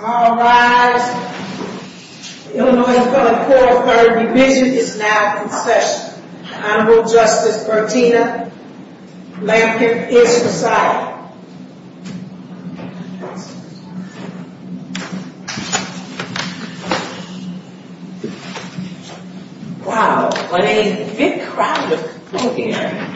All rise. The Illinois Court of Third Division is now in session. Honorable Justice Bertina Blankenship is resided. Wow, what a big crowd of people here.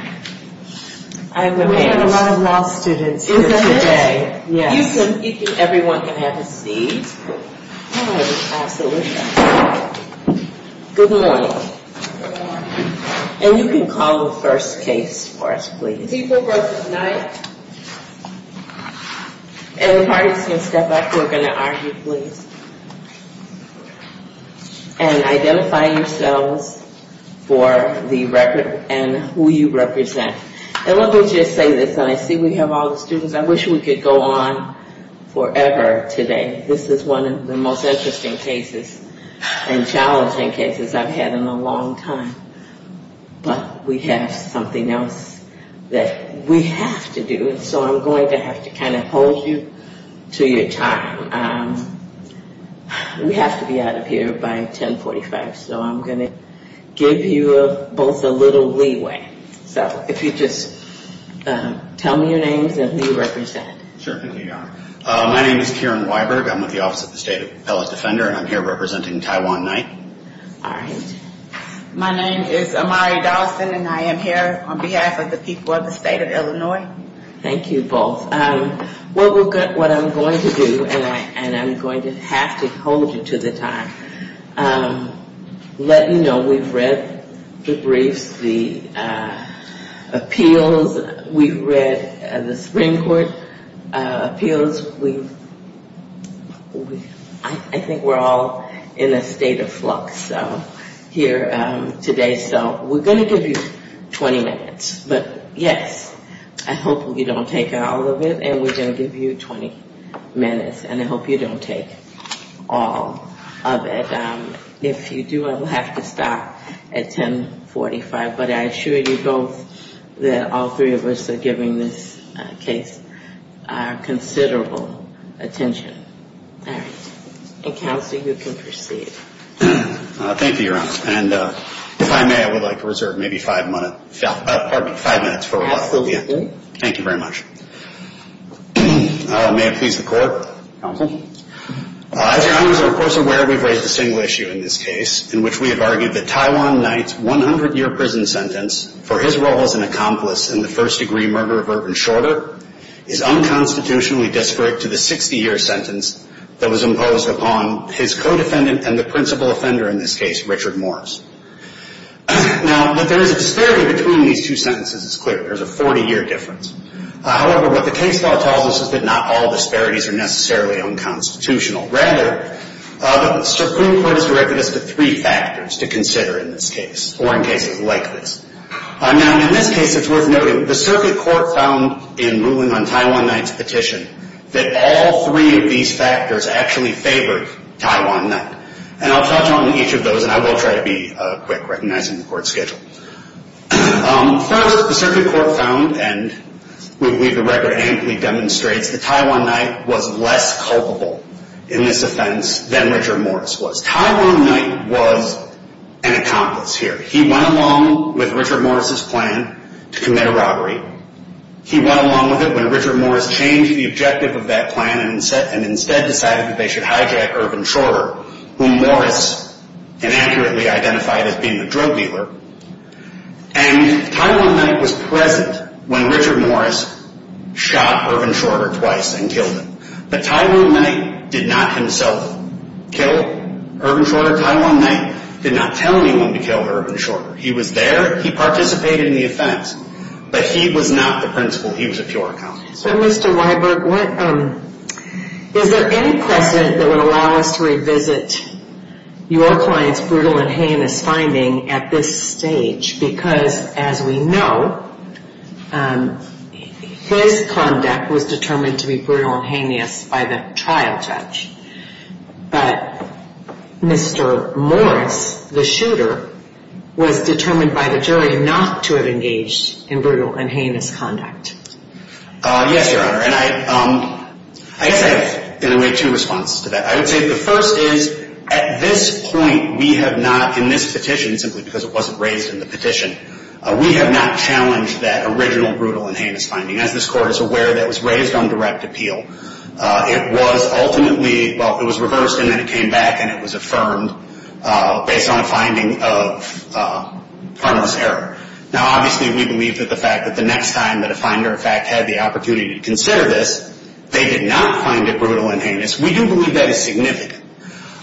We have a lot of law students here today. You think everyone can have a seat? Oh, absolutely. Good morning. Good morning. And you can call the first case for us, please. People versus Knight. And the parties can step back. We're going to argue, please. And identify yourselves for the record and who you represent. And let me just say this, and I see we have all the students. I wish we could go on forever today. This is one of the most interesting cases and challenging cases I've had in a long time. But we have something else that we have to do. And so I'm going to have to kind of hold you to your time. We have to be out of here by 1045. So I'm going to give you both a little leeway. So if you just tell me your names and who you represent. Sure thing, Your Honor. My name is Kieran Weiberg. I'm with the Office of the State Appellate Defender. And I'm here representing Taiwan Knight. All right. My name is Amari Dawson. And I am here on behalf of the people of the state of Illinois. Thank you both. What I'm going to do, and I'm going to have to hold you to the time, let you know we've read the briefs, the appeals. We've read the Supreme Court appeals. I think we're all in a state of flux here today. So we're going to give you 20 minutes. But yes, I hope you don't take all of it. And we're going to give you 20 minutes. And I hope you don't take all of it. If you do, I will have to stop at 1045. But I assure you both that all three of us are giving this case considerable attention. All right. And, Counselor, you can proceed. Thank you, Your Honor. And if I may, I would like to reserve maybe five minutes for rebuttal. Absolutely. Thank you very much. May it please the Court. As Your Honors are, of course, aware, we've raised a single issue in this case in which we have argued that Taiwan Knight's 100-year prison sentence for his role as an accomplice in the first-degree murder of Irvin Shorter is unconstitutionally disparate to the 60-year sentence that was imposed upon his co-defendant and the principal offender in this case, Richard Morris. Now, there is a disparity between these two sentences. It's clear. There's a 40-year difference. However, what the case law tells us is that not all disparities are necessarily unconstitutional. Rather, the Supreme Court has directed us to three factors to consider in this case, or in cases like this. Now, in this case, it's worth noting the circuit court found in ruling on Taiwan Knight's petition that all three of these factors actually favored Taiwan Knight. And I'll touch on each of those, and I will try to be quick, recognizing the Court's schedule. First, the circuit court found, and we believe the record amply demonstrates, that Taiwan Knight was less culpable in this offense than Richard Morris was. Taiwan Knight was an accomplice here. He went along with Richard Morris's plan to commit a robbery. He went along with it when Richard Morris changed the objective of that plan and instead decided that they should hijack Irvin Shorter, whom Morris inaccurately identified as being a drug dealer. And Taiwan Knight was present when Richard Morris shot Irvin Shorter twice and killed him. But Taiwan Knight did not himself kill Irvin Shorter. Taiwan Knight did not tell anyone to kill Irvin Shorter. He was there. He participated in the offense. But he was not the principal. He was a pure accomplice. So, Mr. Weiberg, is there any precedent that would allow us to revisit your client's brutal and heinous finding at this stage? Because, as we know, his conduct was determined to be brutal and heinous by the trial judge. But Mr. Morris, the shooter, was determined by the jury not to have engaged in brutal and heinous conduct. Yes, Your Honor. And I guess I have, in a way, two responses to that. I would say the first is, at this point, we have not, in this petition, simply because it wasn't raised in the petition, we have not challenged that original brutal and heinous finding. As this Court is aware, that was raised on direct appeal. It was ultimately, well, it was reversed and then it came back and it was affirmed based on a finding of harmless error. Now, obviously, we believe that the fact that the next time that a finder, in fact, had the opportunity to consider this, they did not find it brutal and heinous. We do believe that is significant.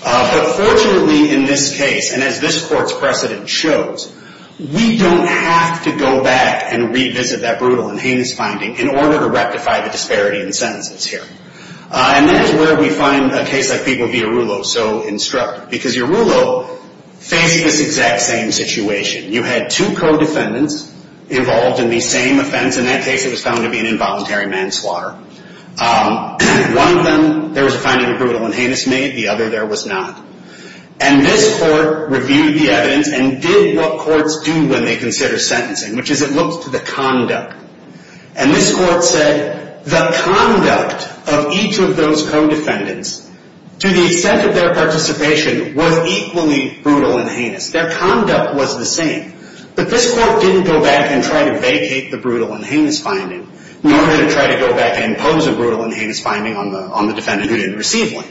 But, fortunately, in this case, and as this Court's precedent shows, we don't have to go back and revisit that brutal and heinous finding in order to rectify the disparity in sentences here. And that is where we find a case like People v. Arullo so instructive. Because Arullo faced this exact same situation. You had two co-defendants involved in the same offense. In that case, it was found to be an involuntary manslaughter. One of them, there was a finding of brutal and heinous made. The other there was not. And this Court reviewed the evidence and did what courts do when they consider sentencing, which is it looked to the conduct. And this Court said the conduct of each of those co-defendants, to the extent of their participation, was equally brutal and heinous. Their conduct was the same. But this Court didn't go back and try to vacate the brutal and heinous finding in order to try to go back and impose a brutal and heinous finding on the defendant who didn't receive one.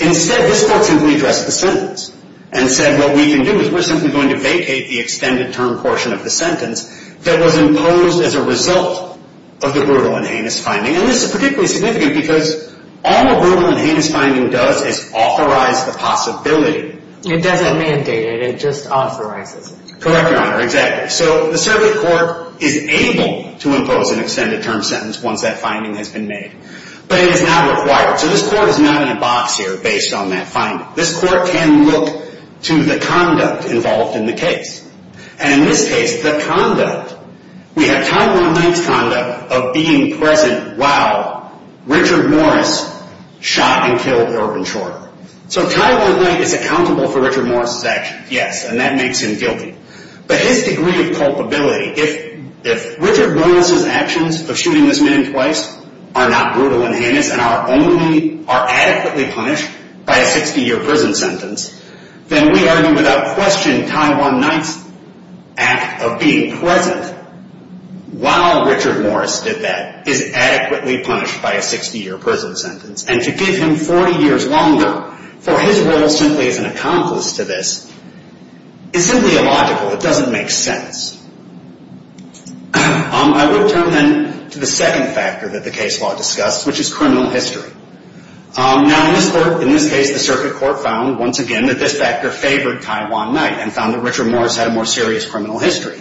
Instead, this Court simply addressed the sentence and said, what we can do is we're simply going to vacate the extended term portion of the sentence that was imposed as a result of the brutal and heinous finding. And this is particularly significant because all a brutal and heinous finding does is authorize the possibility. It doesn't mandate it. It just authorizes it. Correct, Your Honor. Exactly. So the Survey Court is able to impose an extended term sentence once that finding has been made. But it is not required. So this Court is not in a box here based on that finding. This Court can look to the conduct involved in the case. And in this case, the conduct, we have Tyler One Knight's conduct of being present while Richard Morris shot and killed Irvin Shorter. So Tyler One Knight is accountable for Richard Morris's actions, yes, and that makes him guilty. But his degree of culpability, if Richard Morris's actions of shooting this man twice are not brutal and heinous and are adequately punished by a 60-year prison sentence, then we argue without question Tyler One Knight's act of being present while Richard Morris did that is adequately punished by a 60-year prison sentence. And to give him 40 years longer for his role simply as an accomplice to this is simply illogical. It doesn't make sense. I will turn then to the second factor that the case law discusses, which is criminal history. Now, in this case, the Circuit Court found, once again, that this factor favored Tyler One Knight and found that Richard Morris had a more serious criminal history.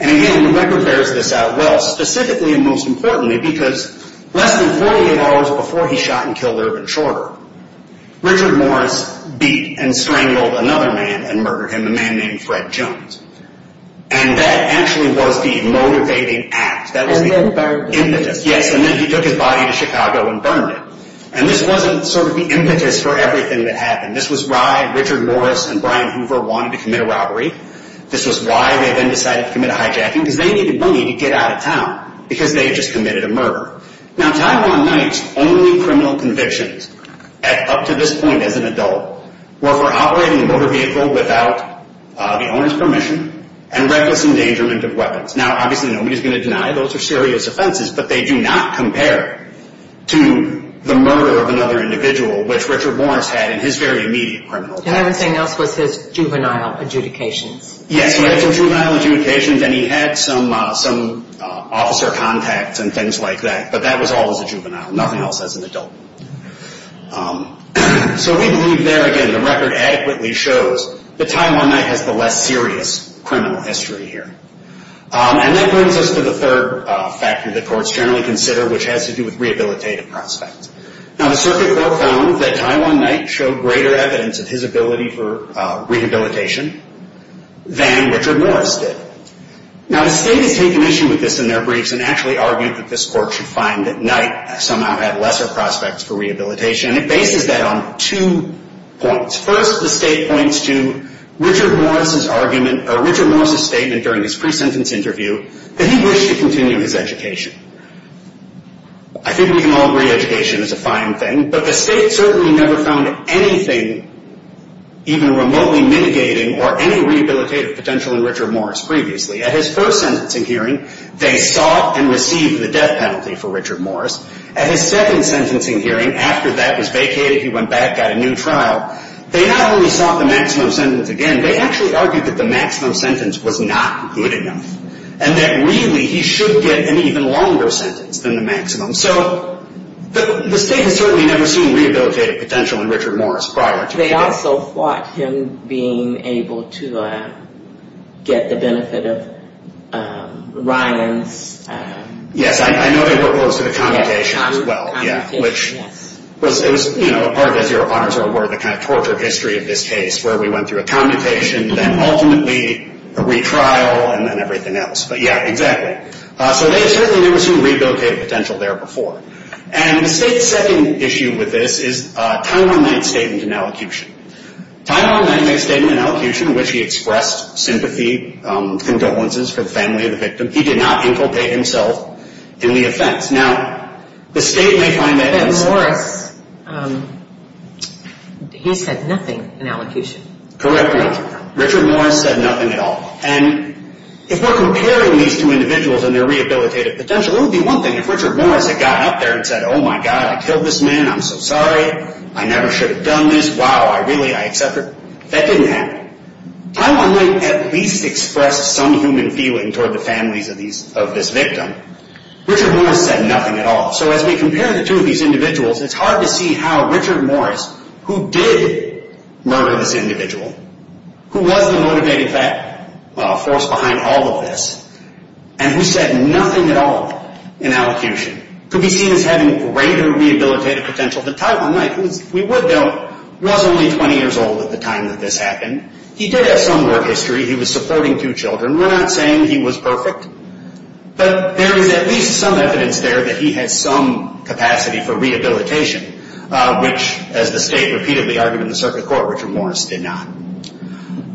And again, the record bears this out well, specifically and most importantly, because less than 48 hours before he shot and killed Irvin Shorter, Richard Morris beat and strangled another man and murdered him, a man named Fred Jones. And that actually was the motivating act. That was the impetus. Yes, and then he took his body to Chicago and burned it. And this wasn't sort of the impetus for everything that happened. This was why Richard Morris and Brian Hoover wanted to commit a robbery. This was why they then decided to commit a hijacking, because they needed money to get out of town because they had just committed a murder. Now, Tyler One Knight's only criminal convictions up to this point as an adult were for operating a motor vehicle without the owner's permission and reckless endangerment of weapons. Now, obviously, nobody's going to deny those are serious offenses, but they do not compare to the murder of another individual, which Richard Morris had in his very immediate criminal history. And everything else was his juvenile adjudications. Yes, he had some juvenile adjudications, and he had some officer contacts and things like that, but that was all as a juvenile, nothing else as an adult. So we believe there, again, the record adequately shows that Tyler One Knight has the less serious criminal history here. And that brings us to the third factor that courts generally consider, which has to do with rehabilitative prospects. Now, the circuit court found that Tyler One Knight showed greater evidence of his ability for rehabilitation than Richard Morris did. Now, the state has taken issue with this in their briefs and actually argued that this court should find that Knight somehow had lesser prospects for rehabilitation, and it bases that on two points. First, the state points to Richard Morris's argument or Richard Morris's statement during his pre-sentence interview that he wished to continue his education. I think we can all agree education is a fine thing, but the state certainly never found anything even remotely mitigating or any rehabilitative potential in Richard Morris previously. At his first sentencing hearing, they sought and received the death penalty for Richard Morris. At his second sentencing hearing, after that was vacated, he went back, got a new trial. They not only sought the maximum sentence again, they actually argued that the maximum sentence was not good enough and that really he should get an even longer sentence than the maximum. So the state has certainly never seen rehabilitative potential in Richard Morris prior to his death. They also fought him being able to get the benefit of Ryan's... Yes, I know they were opposed to the commutation as well, which was a part, as your honors are aware, of the kind of torture history of this case where we went through a commutation, then ultimately a retrial, and then everything else. But yeah, exactly. So they have certainly never seen rehabilitative potential there before. And the state's second issue with this is a Title IX statement in elocution. Title IX statement in elocution in which he expressed sympathy, condolences for the family of the victim, he did not inculcate himself in the offense. Now, the state may find that... But Morris, he said nothing in elocution. Correct. Richard Morris said nothing at all. And if we're comparing these two individuals and their rehabilitative potential, it would be one thing if Richard Morris had gotten up there and said, oh, my God, I killed this man. I'm so sorry. I never should have done this. Wow, I really, I accept it. That didn't happen. Title IX at least expressed some human feeling toward the families of this victim. Richard Morris said nothing at all. So as we compare the two of these individuals, it's hard to see how Richard Morris, who did murder this individual, who was the motivating force behind all of this, and who said nothing at all in elocution, could be seen as having greater rehabilitative potential than Title IX, who, if we would know, was only 20 years old at the time that this happened. He did have some work history. He was supporting two children. We're not saying he was perfect. But there is at least some evidence there that he had some capacity for rehabilitation, which, as the state repeatedly argued in the circuit court, Richard Morris did not.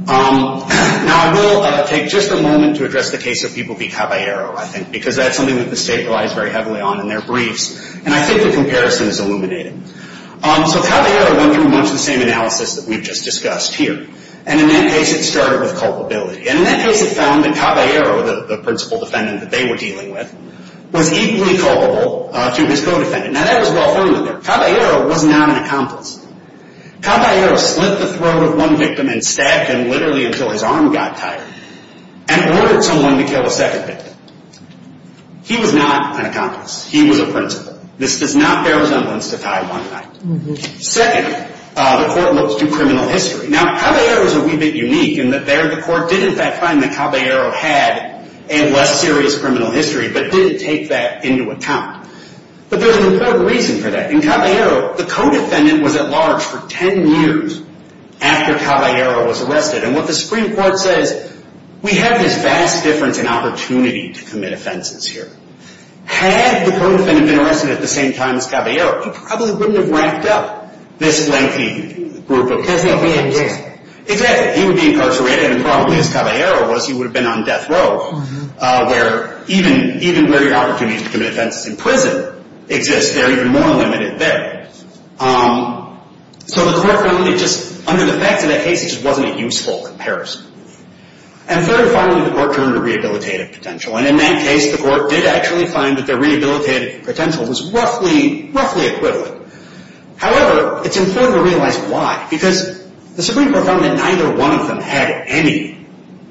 Now, I will take just a moment to address the case of B. Caballero, I think, because that's something that the state relies very heavily on in their briefs, and I think the comparison is illuminated. So Caballero went through much the same analysis that we've just discussed here, and in that case it started with culpability. And in that case it found that Caballero, the principal defendant that they were dealing with, was equally culpable to his co-defendant. Now, that was well-founded there. Caballero was not an accomplice. Caballero slit the throat of one victim and stabbed him literally until his arm got tired and ordered someone to kill the second victim. He was not an accomplice. He was a principal. This does not bear resemblance to Title IX. Second, the court looks to criminal history. Now, Caballero is a wee bit unique in that there the court did, in fact, find that Caballero had a less serious criminal history but didn't take that into account. But there's an important reason for that. In Caballero, the co-defendant was at large for 10 years after Caballero was arrested. And what the Supreme Court says, we have this vast difference in opportunity to commit offenses here. Had the co-defendant been arrested at the same time as Caballero, he probably wouldn't have racked up this lengthy group of cases. Because he would be incarcerated. Exactly. He would be incarcerated, and probably as Caballero was, he would have been on death row, where even where your opportunity to commit offenses in prison exists, they're even more limited there. So the court found that just under the facts of that case, it just wasn't a useful comparison. And third and finally, the court turned to rehabilitative potential. And in that case, the court did actually find that their rehabilitative potential was roughly equivalent. However, it's important to realize why. Because the Supreme Court found that neither one of them had any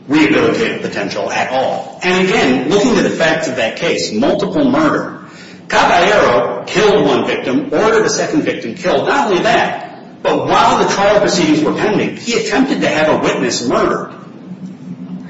rehabilitative potential at all. And again, looking to the facts of that case, multiple murder. Caballero killed one victim, ordered the second victim killed. Not only that, but while the trial proceedings were pending, he attempted to have a witness murdered.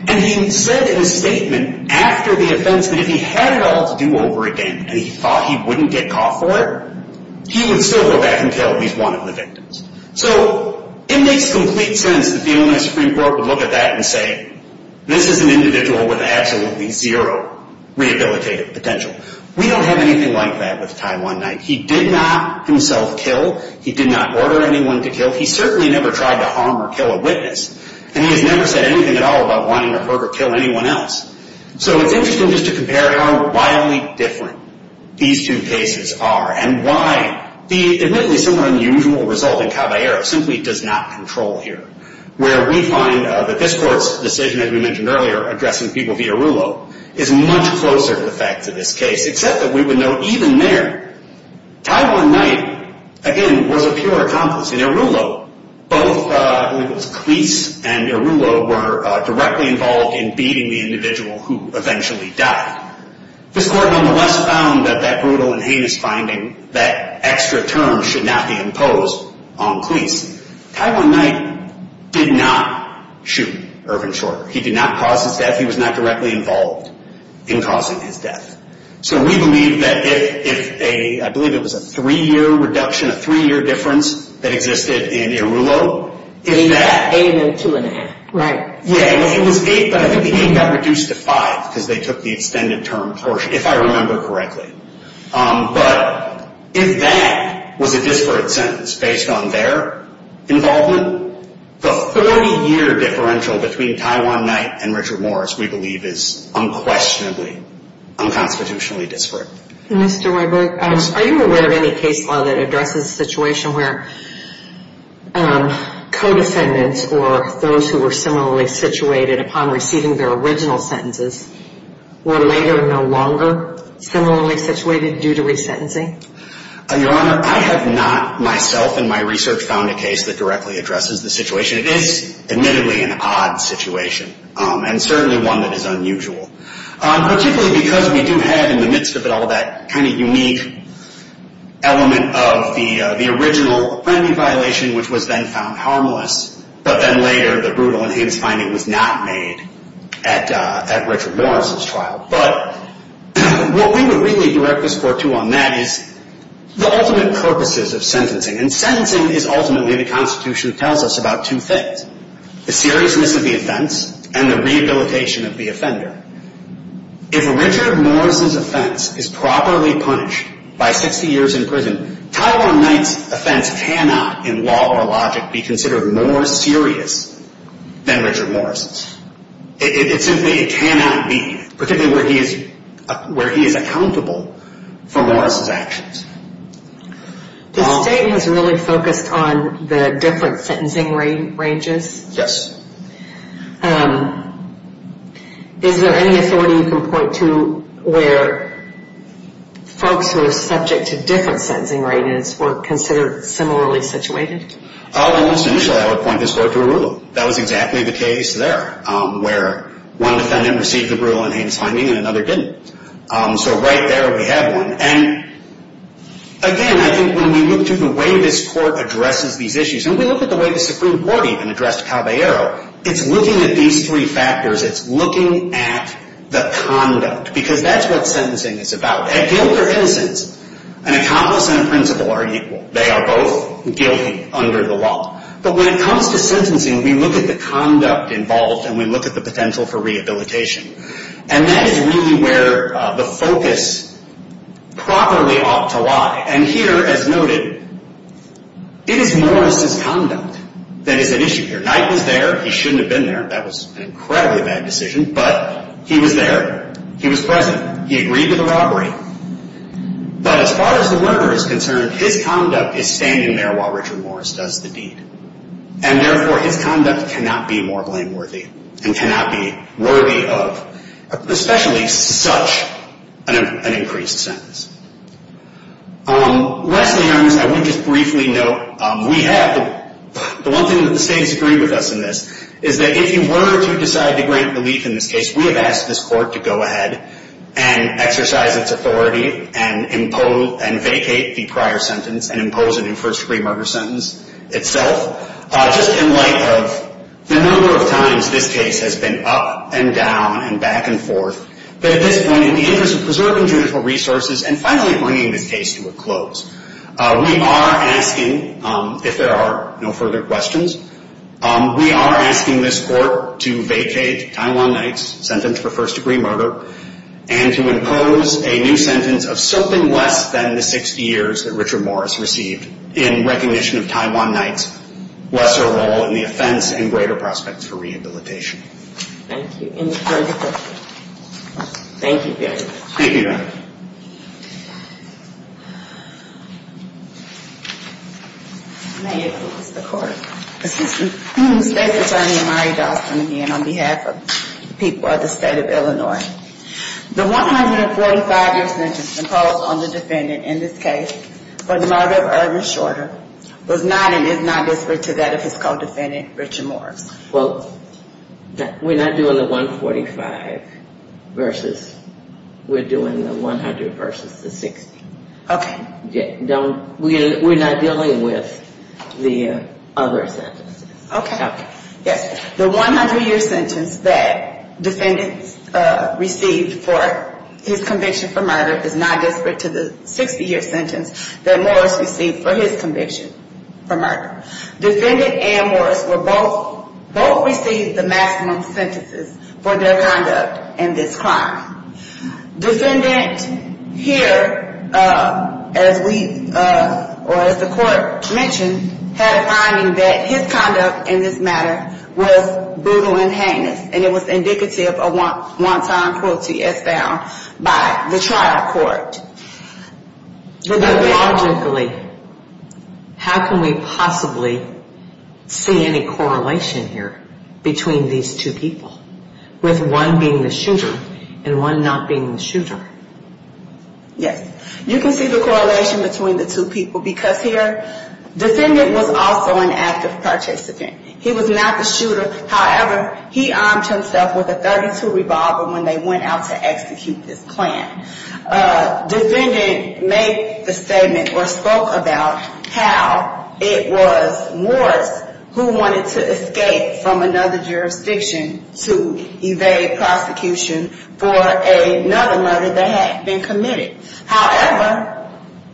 And he said in his statement after the offense that if he had it all to do over again, and he thought he wouldn't get caught for it, he would still go back and kill at least one of the victims. So it makes complete sense that the Illinois Supreme Court would look at that and say, this is an individual with absolutely zero rehabilitative potential. We don't have anything like that with Ty One-Night. He did not himself kill. He did not order anyone to kill. He certainly never tried to harm or kill a witness. And he has never said anything at all about wanting to hurt or kill anyone else. So it's interesting just to compare how wildly different these two cases are and why the admittedly somewhat unusual result in Caballero simply does not control here, where we find that this court's decision, as we mentioned earlier, addressing people via Rulo, is much closer to the fact of this case, except that we would note even there, Ty One-Night, again, was a pure accomplice. In Rulo, both Cleese and Rulo were directly involved in beating the individual who eventually died. This court, nonetheless, found that that brutal and heinous finding, that extra term, should not be imposed on Cleese. Ty One-Night did not shoot Irvin Shorter. He did not cause his death. He was not directly involved in causing his death. So we believe that if a, I believe it was a three-year reduction, a three-year difference, that existed in Irulo, if that. Eight and two and a half, right. Yeah, well, it was eight, but I think the eight got reduced to five because they took the extended term portion, if I remember correctly. But if that was a disparate sentence based on their involvement, the 30-year differential between Ty One-Night and Richard Morris, we believe, is unquestionably unconstitutionally disparate. Mr. Weiberg, are you aware of any case law that addresses a situation where co-defendants or those who were similarly situated upon receiving their original sentences were later no longer similarly situated due to resentencing? Your Honor, I have not, myself, in my research, found a case that directly addresses the situation. It is, admittedly, an odd situation, and certainly one that is unusual, particularly because we do have, in the midst of it all, that kind of unique element of the original felony violation, which was then found harmless, but then later the brutal and heinous finding was not made at Richard Morris's trial. But what we would really direct this court to on that is the ultimate purposes of sentencing, and sentencing is ultimately the Constitution that tells us about two things, the seriousness of the offense and the rehabilitation of the offender. If Richard Morris's offense is properly punished by 60 years in prison, Tyrone Knight's offense cannot, in law or logic, be considered more serious than Richard Morris's. It simply cannot be, particularly where he is accountable for Morris's actions. The State has really focused on the different sentencing ranges? Yes. Is there any authority you can point to where folks who are subject to different sentencing ranges were considered similarly situated? Well, at least initially I would point this court to Arula. That was exactly the case there, where one defendant received a brutal and heinous finding and another didn't. So right there we have one. And, again, I think when we look to the way this court addresses these issues, and we look at the way the Supreme Court even addressed Caballero, it's looking at these three factors. It's looking at the conduct, because that's what sentencing is about. A guilt or innocence. An accomplice and a principal are equal. They are both guilty under the law. But when it comes to sentencing, we look at the conduct involved and we look at the potential for rehabilitation. And that is really where the focus properly ought to lie. And here, as noted, it is Morris's conduct that is at issue here. Knight was there. He shouldn't have been there. That was an incredibly bad decision. But he was there. He was present. He agreed to the robbery. But as far as the learner is concerned, his conduct is standing there while Richard Morris does the deed. And, therefore, his conduct cannot be more blameworthy and cannot be worthy of especially such an increased sentence. Lastly, I would just briefly note, we have the one thing that the state has agreed with us in this, is that if you were to decide to grant relief in this case, we have asked this court to go ahead and exercise its authority and vacate the prior sentence and impose a new first-degree murder sentence itself. Just in light of the number of times this case has been up and down and back and forth, but at this point, in the interest of preserving judicial resources and finally bringing this case to a close, we are asking, if there are no further questions, we are asking this court to vacate Tywon Knight's sentence for first-degree murder and to impose a new sentence of something less than the 60 years that Richard Morris received in recognition of Tywon Knight's lesser role in the offense and greater prospects for rehabilitation. Thank you. Any further questions? Thank you very much. Thank you, Your Honor. May it please the Court. Assistant State's Attorney Amari Dawson again on behalf of the people of the State of Illinois. The 145-year sentence imposed on the defendant in this case for the murder of Irvin Shorter was not and is not disparate to that of his co-defendant, Richard Morris. Well, we're not doing the 145 versus, we're doing the 100 versus the 60. Okay. Don't, we're not dealing with the other sentences. Okay. Yes. The 100-year sentence that defendant received for his conviction for murder is not disparate to the 60-year sentence that Morris received for his conviction for murder. Defendant and Morris were both, both received the maximum sentences for their conduct in this crime. Defendant here, as we, or as the Court mentioned, had a finding that his conduct in this matter was brutal and heinous and it was indicative of wanton cruelty as found by the trial court. Logically, how can we possibly see any correlation here between these two people, with one being the shooter and one not being the shooter? Yes. You can see the correlation between the two people because here, defendant was also an active participant. He was not the shooter. However, he armed himself with a .32 revolver when they went out to execute this plan. Defendant made the statement or spoke about how it was Morris who wanted to escape from another jurisdiction to evade prosecution for another murder that had been committed. However,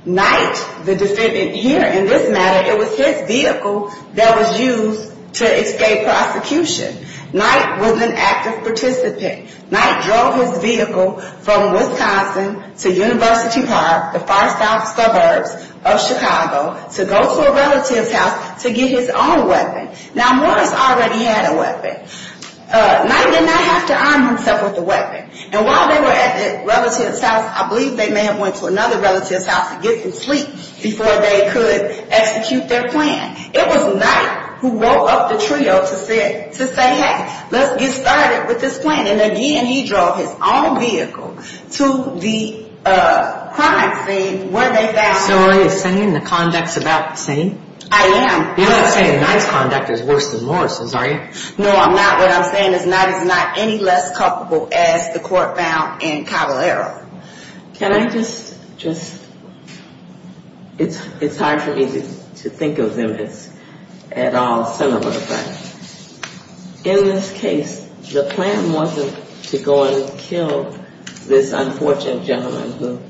Knight, the defendant here in this matter, it was his vehicle that was used to escape prosecution. Knight was an active participant. Knight drove his vehicle from Wisconsin to University Park, the far south suburbs of Chicago, to go to a relative's house to get his own weapon. Now, Morris already had a weapon. Knight did not have to arm himself with a weapon. And while they were at the relative's house, I believe they may have went to another relative's house to get some sleep before they could execute their plan. It was Knight who woke up the trio to say, hey, let's get started with this plan. And again, he drove his own vehicle to the crime scene where they found him. So are you saying the conduct's about the same? I am. You're not saying Knight's conduct is worse than Morris's, are you? No, I'm not. What I'm saying is Knight is not any less culpable as the court found in Caballero. Can I just, just, it's hard for me to think of them as at all similar, but in this case, the plan wasn't to go and kill this unfortunate gentleman who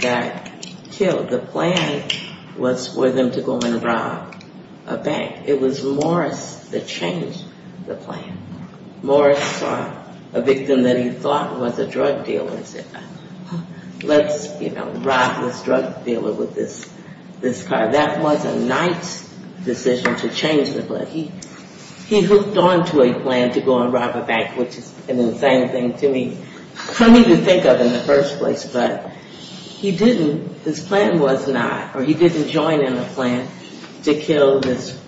got killed. The plan was for them to go and rob a bank. It was Morris that changed the plan. Morris saw a victim that he thought was a drug dealer and said, let's, you know, rob this drug dealer with this car. That was a Knight's decision to change the plan. He hooked on to a plan to go and rob a bank, which is an insane thing to me, for me to think of in the first place. But he didn't, his plan was not, or he didn't join in a plan to kill this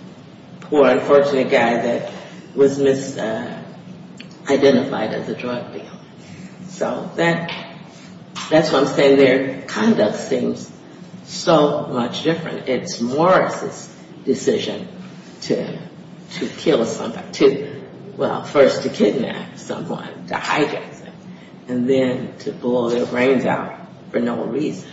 poor, unfortunate guy that was misidentified as a drug dealer. So that's what I'm saying. Their conduct seems so much different. It's Morris's decision to kill somebody, to, well, first to kidnap someone, to hijack someone, and then to blow their brains out for no reason.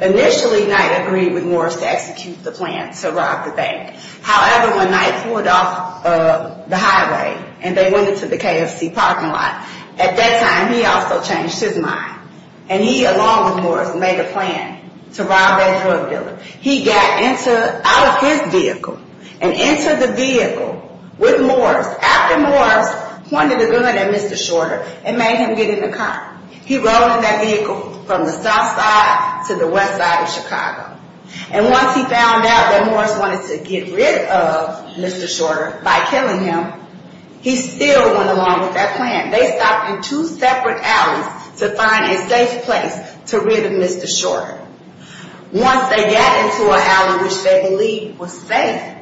Initially, Knight agreed with Morris to execute the plan, to rob the bank. However, when Knight pulled off the highway and they went into the KFC parking lot, at that time he also changed his mind. And he, along with Morris, made a plan to rob that drug dealer. He got out of his vehicle and into the vehicle with Morris. After Morris pointed a gun at Mr. Shorter and made him get in the car, he rode in that vehicle from the south side to the west side of Chicago. And once he found out that Morris wanted to get rid of Mr. Shorter by killing him, he still went along with that plan. They stopped in two separate alleys to find a safe place to rid of Mr. Shorter. Once they got into an alley which they believed was safe,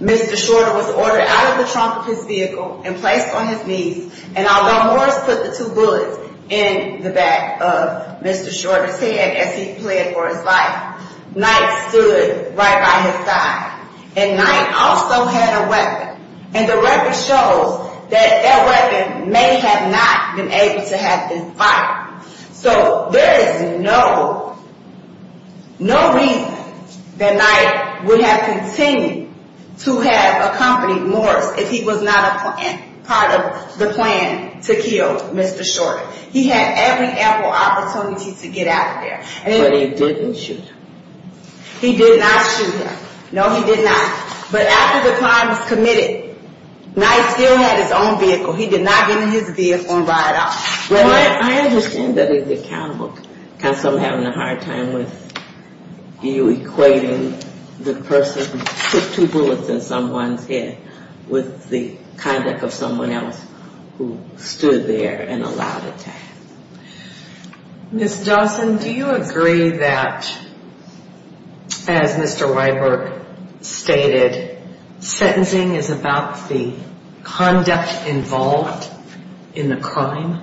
Mr. Shorter was ordered out of the trunk of his vehicle and placed on his knees. And although Morris put the two bullets in the back of Mr. Shorter's head as he pled for his life, Knight stood right by his side. And Knight also had a weapon. And the record shows that that weapon may have not been able to have been fired. So there is no reason that Knight would have continued to have accompanied Morris if he was not a part of the plan to kill Mr. Shorter. He had every ample opportunity to get out of there. But he didn't shoot him. He did not shoot him. No, he did not. But after the crime was committed, Knight still had his own vehicle. He did not get in his vehicle and ride off. I understand that he's accountable because I'm having a hard time with you equating the person who put two bullets in someone's head with the conduct of someone else who stood there and allowed attacks. Ms. Dawson, do you agree that, as Mr. Weiberg stated, sentencing is about the conduct involved in the crime?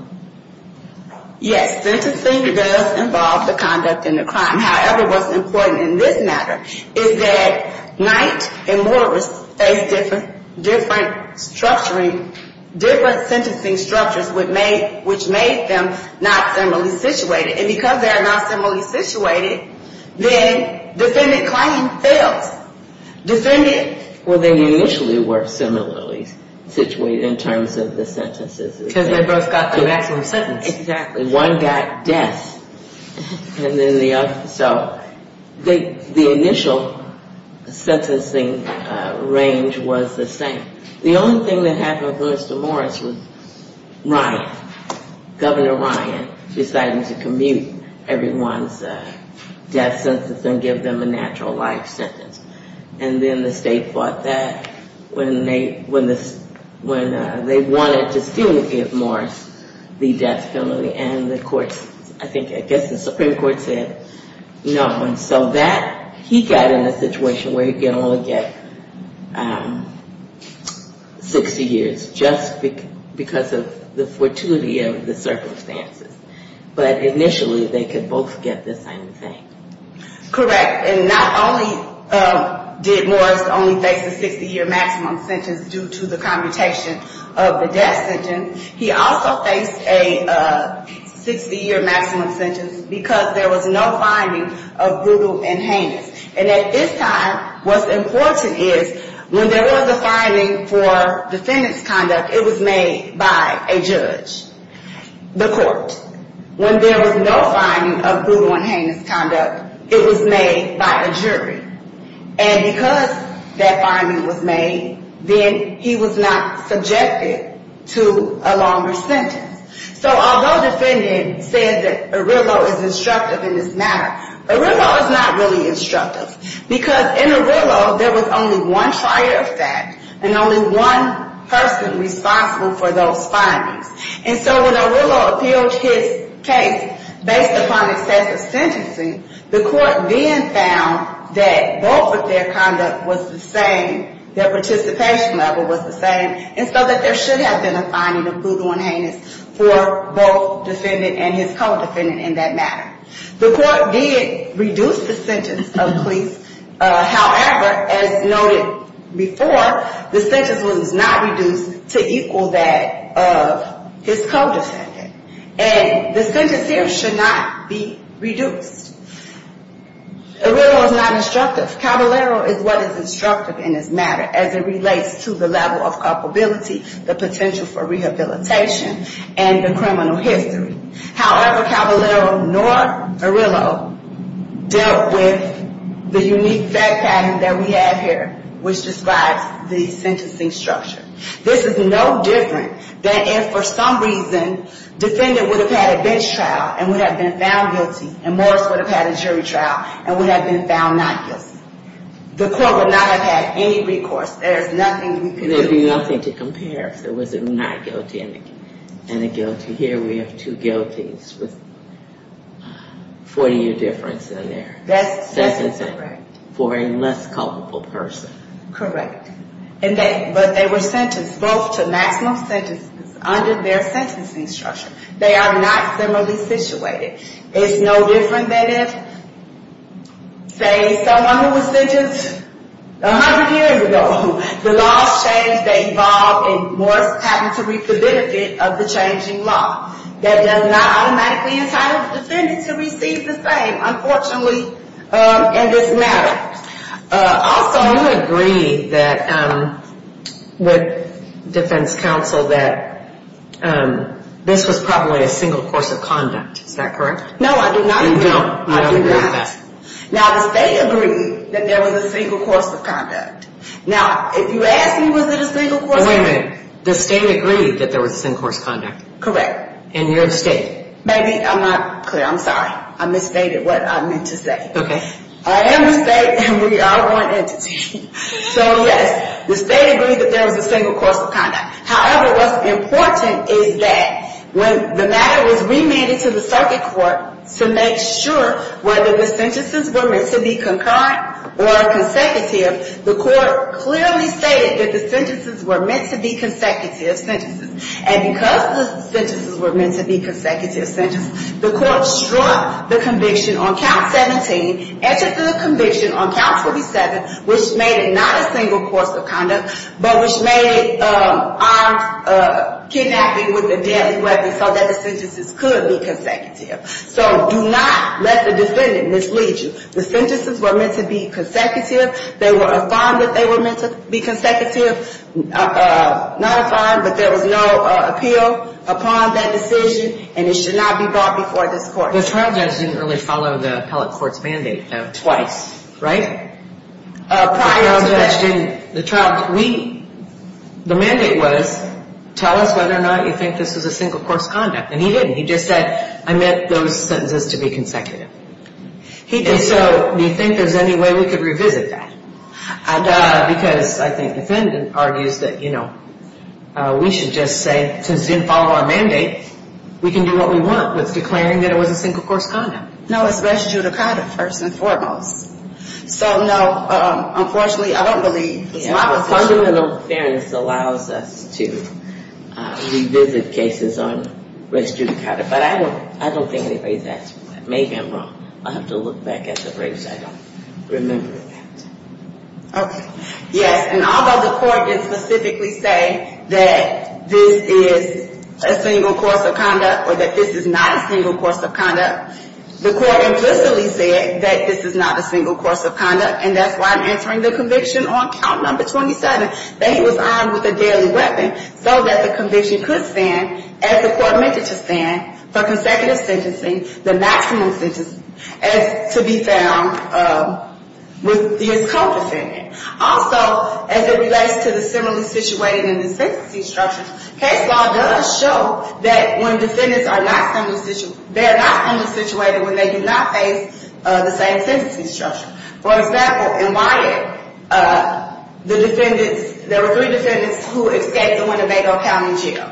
Yes, sentencing does involve the conduct in the crime. However, what's important in this matter is that Knight and Morris faced different structuring, different sentencing structures which made them not similarly situated. And because they are not similarly situated, then defendant claim fails. Well, they initially were similarly situated in terms of the sentences. Because they both got the maximum sentence. Exactly. One got death. So the initial sentencing range was the same. The only thing that happened with Mr. Morris was Ryan, Governor Ryan, decided to commute everyone's death sentence and give them a natural life sentence. And then the state fought that when they wanted to still give Morris the death penalty. And the courts, I think, I guess the Supreme Court said no. And so that, he got in a situation where he could only get 60 years just because of the fortuity of the circumstances. But initially they could both get the same thing. Correct. And not only did Morris only face a 60-year maximum sentence due to the commutation of the death sentence, he also faced a 60-year maximum sentence because there was no finding of brutal and heinous. And at this time, what's important is when there was a finding for defendant's conduct, it was made by a judge. The court. When there was no finding of brutal and heinous conduct, it was made by a jury. And because that finding was made, then he was not subjected to a longer sentence. So although defendant said that Arillo is instructive in this matter, Arillo is not really instructive. Because in Arillo, there was only one fire effect and only one person responsible for those findings. And so when Arillo appealed his case based upon excessive sentencing, the court then found that both of their conduct was the same. Their participation level was the same. And so that there should have been a finding of brutal and heinous for both defendant and his co-defendant in that matter. The court did reduce the sentence of police. However, as noted before, the sentence was not reduced to equal that of his co-defendant. And the sentence here should not be reduced. Arillo is not instructive. Caballero is what is instructive in this matter as it relates to the level of culpability, the potential for rehabilitation, and the criminal history. However, Caballero nor Arillo dealt with the unique fact pattern that we have here, which describes the sentencing structure. This is no different than if, for some reason, defendant would have had a bench trial and would have been found guilty, and Morris would have had a jury trial and would have been found not guilty. The court would not have had any recourse. There is nothing we could do. There was a not guilty and a guilty. Here we have two guilties with 40-year difference in their sentencing for a less culpable person. Correct. But they were sentenced both to maximum sentences under their sentencing structure. They are not similarly situated. It's no different than if, say, someone who was sentenced 100 years ago, the laws changed, they evolved, and Morris happened to reap the benefit of the changing law. That does not automatically entitle the defendant to receive the same, unfortunately, in this matter. Also, you agree with defense counsel that this was probably a single course of conduct, is that correct? No, I do not agree with that. Now, the state agreed that there was a single course of conduct. Now, if you ask me, was it a single course of conduct? Wait a minute. The state agreed that there was a single course of conduct. Correct. And you're the state. Maybe I'm not clear. I'm sorry. I misstated what I meant to say. Okay. I am the state, and we are one entity. So, yes, the state agreed that there was a single course of conduct. However, what's important is that when the matter was remanded to the circuit court to make sure whether the sentences were meant to be concurrent or consecutive, the court clearly stated that the sentences were meant to be consecutive sentences. And because the sentences were meant to be consecutive sentences, the court struck the conviction on count 17, entered the conviction on count 47, which made it not a single course of conduct, but which made it armed kidnapping with a deadly weapon so that the sentences could be consecutive. So do not let the defendant mislead you. The sentences were meant to be consecutive. They were affirmed that they were meant to be consecutive. Not affirmed, but there was no appeal upon that decision, and it should not be brought before this court. The trial judge didn't really follow the appellate court's mandate, though. Right? The trial judge didn't. The mandate was, tell us whether or not you think this was a single course of conduct. And he didn't. He just said, I meant those sentences to be consecutive. And so do you think there's any way we could revisit that? Because I think the defendant argues that, you know, we should just say, since it didn't follow our mandate, we can do what we want with declaring that it was a single course of conduct. No, it's res judicata, first and foremost. So, no, unfortunately, I don't believe it's my position. Fundamental fairness allows us to revisit cases on res judicata. But I don't think anybody's asked for that. Maybe I'm wrong. I'll have to look back at the briefs. I'll have to remember that. Okay. Yes, and although the court didn't specifically say that this is a single course of conduct or that this is not a single course of conduct, the court implicitly said that this is not a single course of conduct. And that's why I'm answering the conviction on count number 27, that he was armed with a deadly weapon so that the conviction could stand, as the court meant it to stand, for consecutive sentencing, the maximum sentencing, as to be found with his co-defendant. Also, as it relates to the similarly situated in the sentencing structure, case law does show that when defendants are not similarly situated, they are not similarly situated when they do not face the same sentencing structure. For example, in Wyatt, the defendants, there were three defendants who escaped the Winnebago County jail.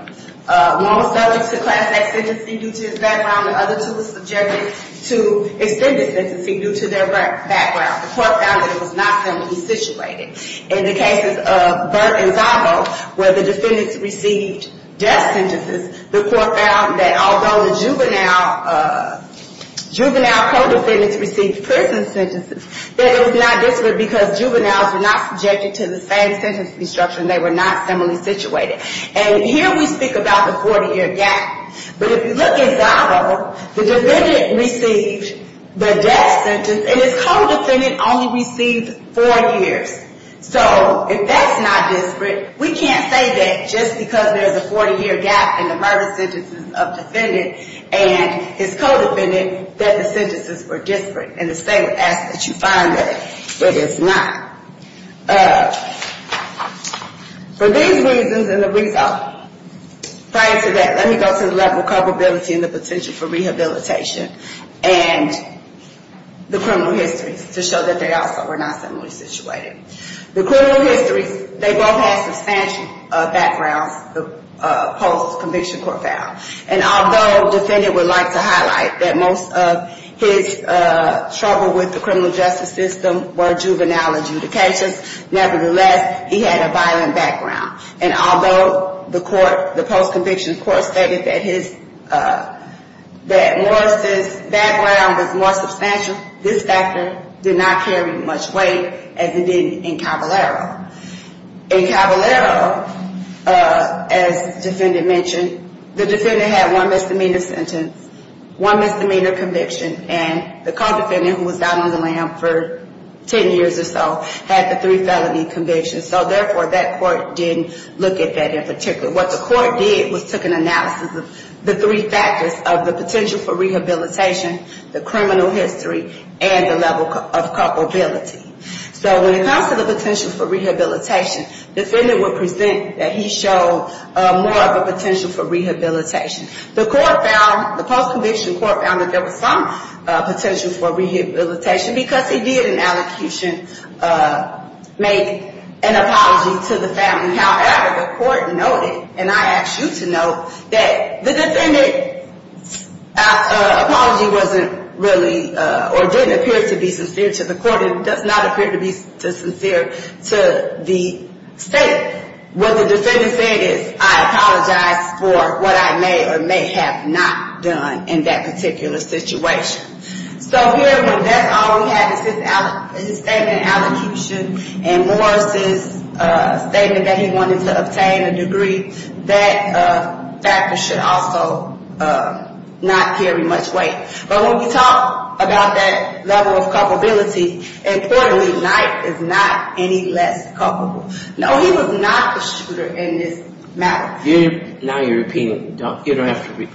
One was subject to class X sentencing due to his background, and the other two were subjected to extended sentencing due to their background. The court found that it was not similarly situated. In the cases of Burke and Zabo, where the defendants received death sentences, the court found that although the juvenile co-defendants received prison sentences, that it was not this way because juveniles were not subjected to the same sentencing structure, and they were not similarly situated. And here we speak about the 40-year gap. But if you look at Zabo, the defendant received the death sentence, and his co-defendant only received four years. So if that's not disparate, we can't say that just because there's a 40-year gap in the murder sentences of the defendant and his co-defendant, that the sentences were disparate. And the state would ask that you find that. But it's not. For these reasons and the reason, prior to that, let me go to the level of culpability and the potential for rehabilitation and the criminal histories to show that they also were not similarly situated. The criminal histories, they both have substantial backgrounds post-conviction court found. And although the defendant would like to highlight that most of his trouble with the criminal justice system were juvenile adjudications, nevertheless, he had a violent background. And although the post-conviction court stated that Morris' background was more substantial, this factor did not carry much weight as it did in Cavallaro. In Cavallaro, as the defendant mentioned, the defendant had one misdemeanor sentence, one misdemeanor conviction, and the co-defendant, who was down on the lam for 10 years or so, had the three felony convictions. So, therefore, that court didn't look at that in particular. What the court did was took an analysis of the three factors of the potential for rehabilitation, the criminal history, and the level of culpability. So when it comes to the potential for rehabilitation, the defendant would present that he showed more of a potential for rehabilitation. The court found, the post-conviction court found that there was some potential for rehabilitation because he did in allocution make an apology to the family. However, the court noted, and I ask you to note, that the defendant's apology wasn't really or didn't appear to be sincere to the court and does not appear to be sincere to the state. What the defendant said is, I apologize for what I may or may have not done in that particular situation. So, therefore, that's all we have is his statement in allocution and Morris' statement that he wanted to obtain a degree. That factor should also not carry much weight. But when we talk about that level of culpability, importantly, Knight is not any less culpable. No, he was not the shooter in this matter. Now you're repeating. You don't have to repeat.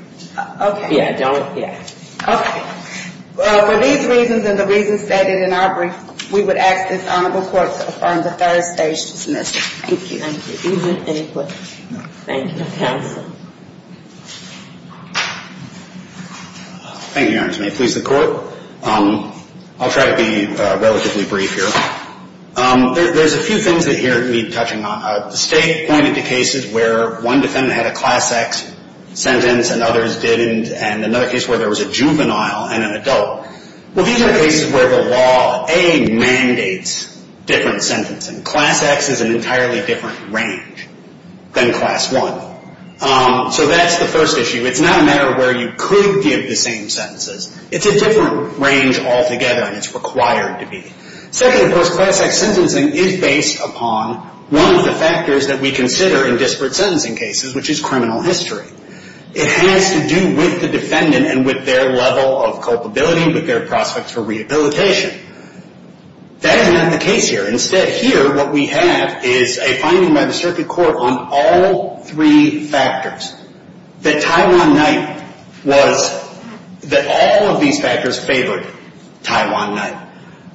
Okay. Yeah, don't, yeah. Okay. Well, for these reasons and the reasons stated in our brief, we would ask this honorable court to affirm the third stage dismissal. Thank you. Thank you. Thank you, counsel. Thank you, Your Honor. May it please the court. I'll try to be relatively brief here. There's a few things that here need touching on. The state pointed to cases where one defendant had a Class X sentence and others didn't, and another case where there was a juvenile and an adult. Well, these are cases where the law, A, mandates different sentencing. Class X is an entirely different range than Class 1. So that's the first issue. It's not a matter of where you could give the same sentences. It's a different range altogether, and it's required to be. Second, of course, Class X sentencing is based upon one of the factors that we consider in disparate sentencing cases, which is criminal history. It has to do with the defendant and with their level of culpability, with their prospects for rehabilitation. That is not the case here. Instead, here what we have is a finding by the circuit court on all three factors, that Taiwan Night was, that all of these factors favored Taiwan Night.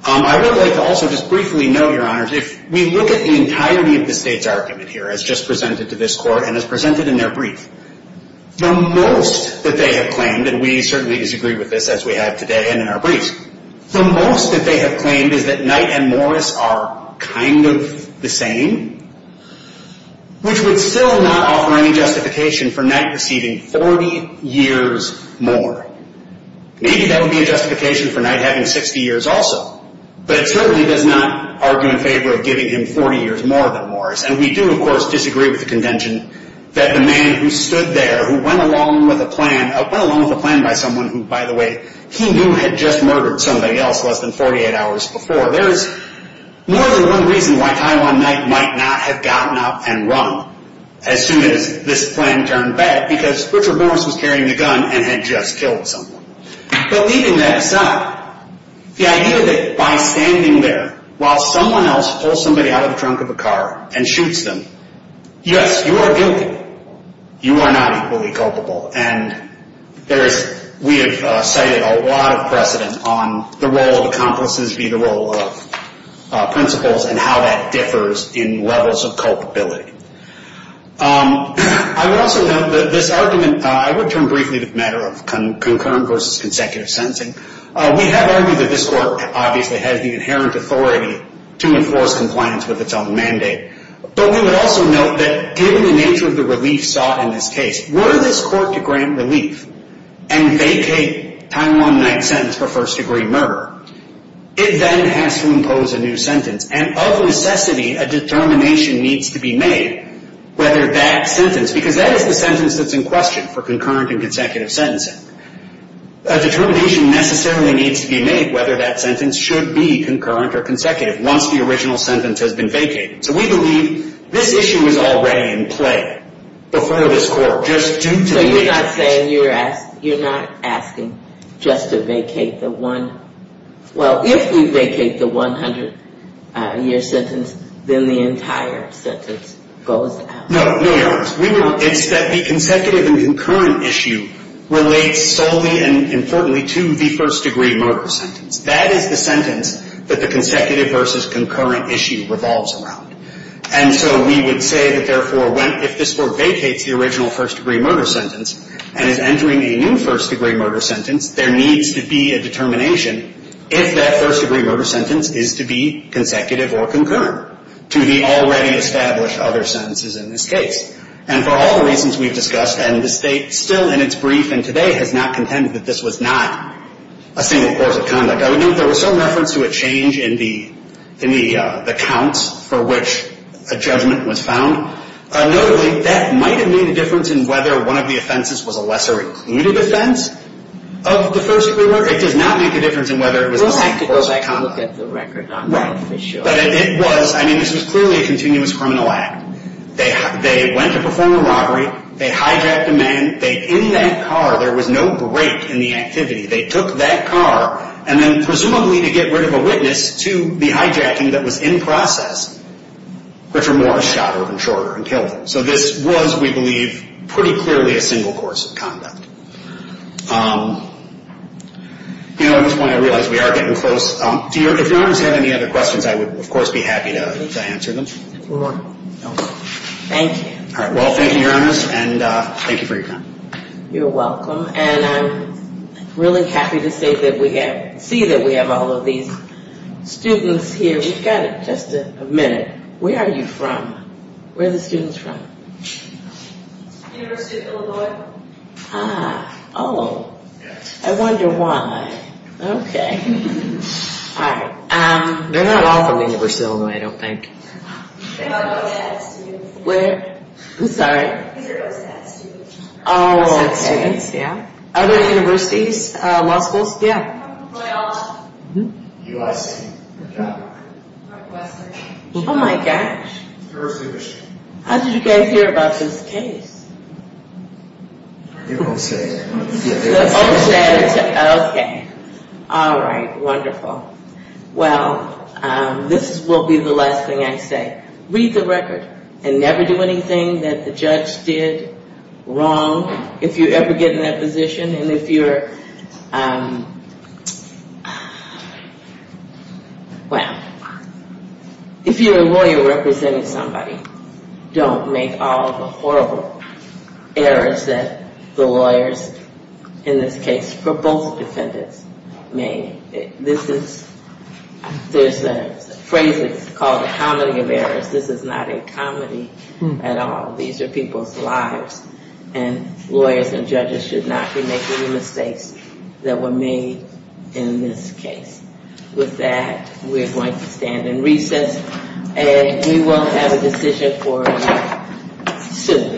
I would like to also just briefly note, Your Honors, if we look at the entirety of the state's argument here as just presented to this court and as presented in their brief, the most that they have claimed, and we certainly disagree with this as we have today and in our briefs, the most that they have claimed is that Night and Morris are kind of the same, which would still not offer any justification for Night receiving 40 years more. Maybe that would be a justification for Night having 60 years also, but it certainly does not argue in favor of giving him 40 years more than Morris, and we do, of course, disagree with the contention that the man who stood there, who went along with a plan, went along with a plan by someone who, by the way, he knew had just murdered somebody else less than 48 hours before. There is more than one reason why Taiwan Night might not have gotten up and run as soon as this plan turned bad, because Richard Morris was carrying a gun and had just killed someone. But leaving that aside, the idea that by standing there while someone else pulls somebody out of the trunk of a car and shoots them, yes, you are guilty. You are not equally culpable. And we have cited a lot of precedent on the role of accomplices via the role of principals and how that differs in levels of culpability. I would also note that this argument, I would turn briefly to the matter of concurrent versus consecutive sentencing. We have argued that this court obviously has the inherent authority to enforce compliance with its own mandate, but we would also note that given the nature of the relief sought in this case, were this court to grant relief and vacate Taiwan Night's sentence for first-degree murder, it then has to impose a new sentence, and of necessity a determination needs to be made whether that sentence, because that is the sentence that is in question for concurrent and consecutive sentencing, a determination necessarily needs to be made whether that sentence should be concurrent or consecutive once the original sentence has been vacated. So we believe this issue is already in play before this court, just due to the nature of it. So you're saying you're not asking just to vacate the one, well, if you vacate the 100-year sentence, then the entire sentence goes out? No, Your Honor. It's that the consecutive and concurrent issue relates solely and importantly to the first-degree murder sentence. That is the sentence that the consecutive versus concurrent issue revolves around. And so we would say that, therefore, if this court vacates the original first-degree murder sentence and is entering a new first-degree murder sentence, there needs to be a determination if that first-degree murder sentence is to be consecutive or concurrent to the already established other sentences in this case. And for all the reasons we've discussed, and the State still in its brief and today has not contended that this was not a single course of conduct, I would note there was some reference to a change in the counts for which a judgment was found. Notably, that might have made a difference in whether one of the offenses was a lesser-included offense of the first-degree murder. It does not make a difference in whether it was a single course of conduct. We'll have to go back and look at the record on that for sure. Right. But it was, I mean, this was clearly a continuous criminal act. They went to perform a robbery. They hijacked a man. In that car, there was no break in the activity. They took that car, and then presumably to get rid of a witness to the hijacking that was in process, which were more a shot or a shorter and killed him. So this was, we believe, pretty clearly a single course of conduct. At this point, I realize we are getting close. If Your Honors have any other questions, I would, of course, be happy to answer them. No more? No more. Thank you. All right. Well, thank you, Your Honors, and thank you for your time. You're welcome. And I'm really happy to say that we have, see that we have all of these students here. We've got just a minute. Where are you from? Where are the students from? University of Illinois. Ah. Oh. Yes. I wonder why. Okay. All right. They're not all from the University of Illinois, I don't think. They're all Go-Stats students. Where? I'm sorry? These are Go-Stats students. Oh. These are Go-Stats students. Other universities? Law schools? Yeah. I'm from Loyola. UIC. California. Northwestern. Oh, my gosh. University of Michigan. How did you guys hear about this case? You don't say. You don't say. Okay. All right. Wonderful. Well, this will be the last thing I say. Read the record and never do anything that the judge did wrong. If you ever get in that position and if you're, well, if you're a lawyer representing somebody, don't make all the horrible errors that the lawyers, in this case, for both defendants, made. This is, there's a phrase that's called the comedy of errors. This is not a comedy at all. These are people's lives, and lawyers and judges should not be making the mistakes that were made in this case. With that, we're going to stand in recess, and we will have a decision for you soon.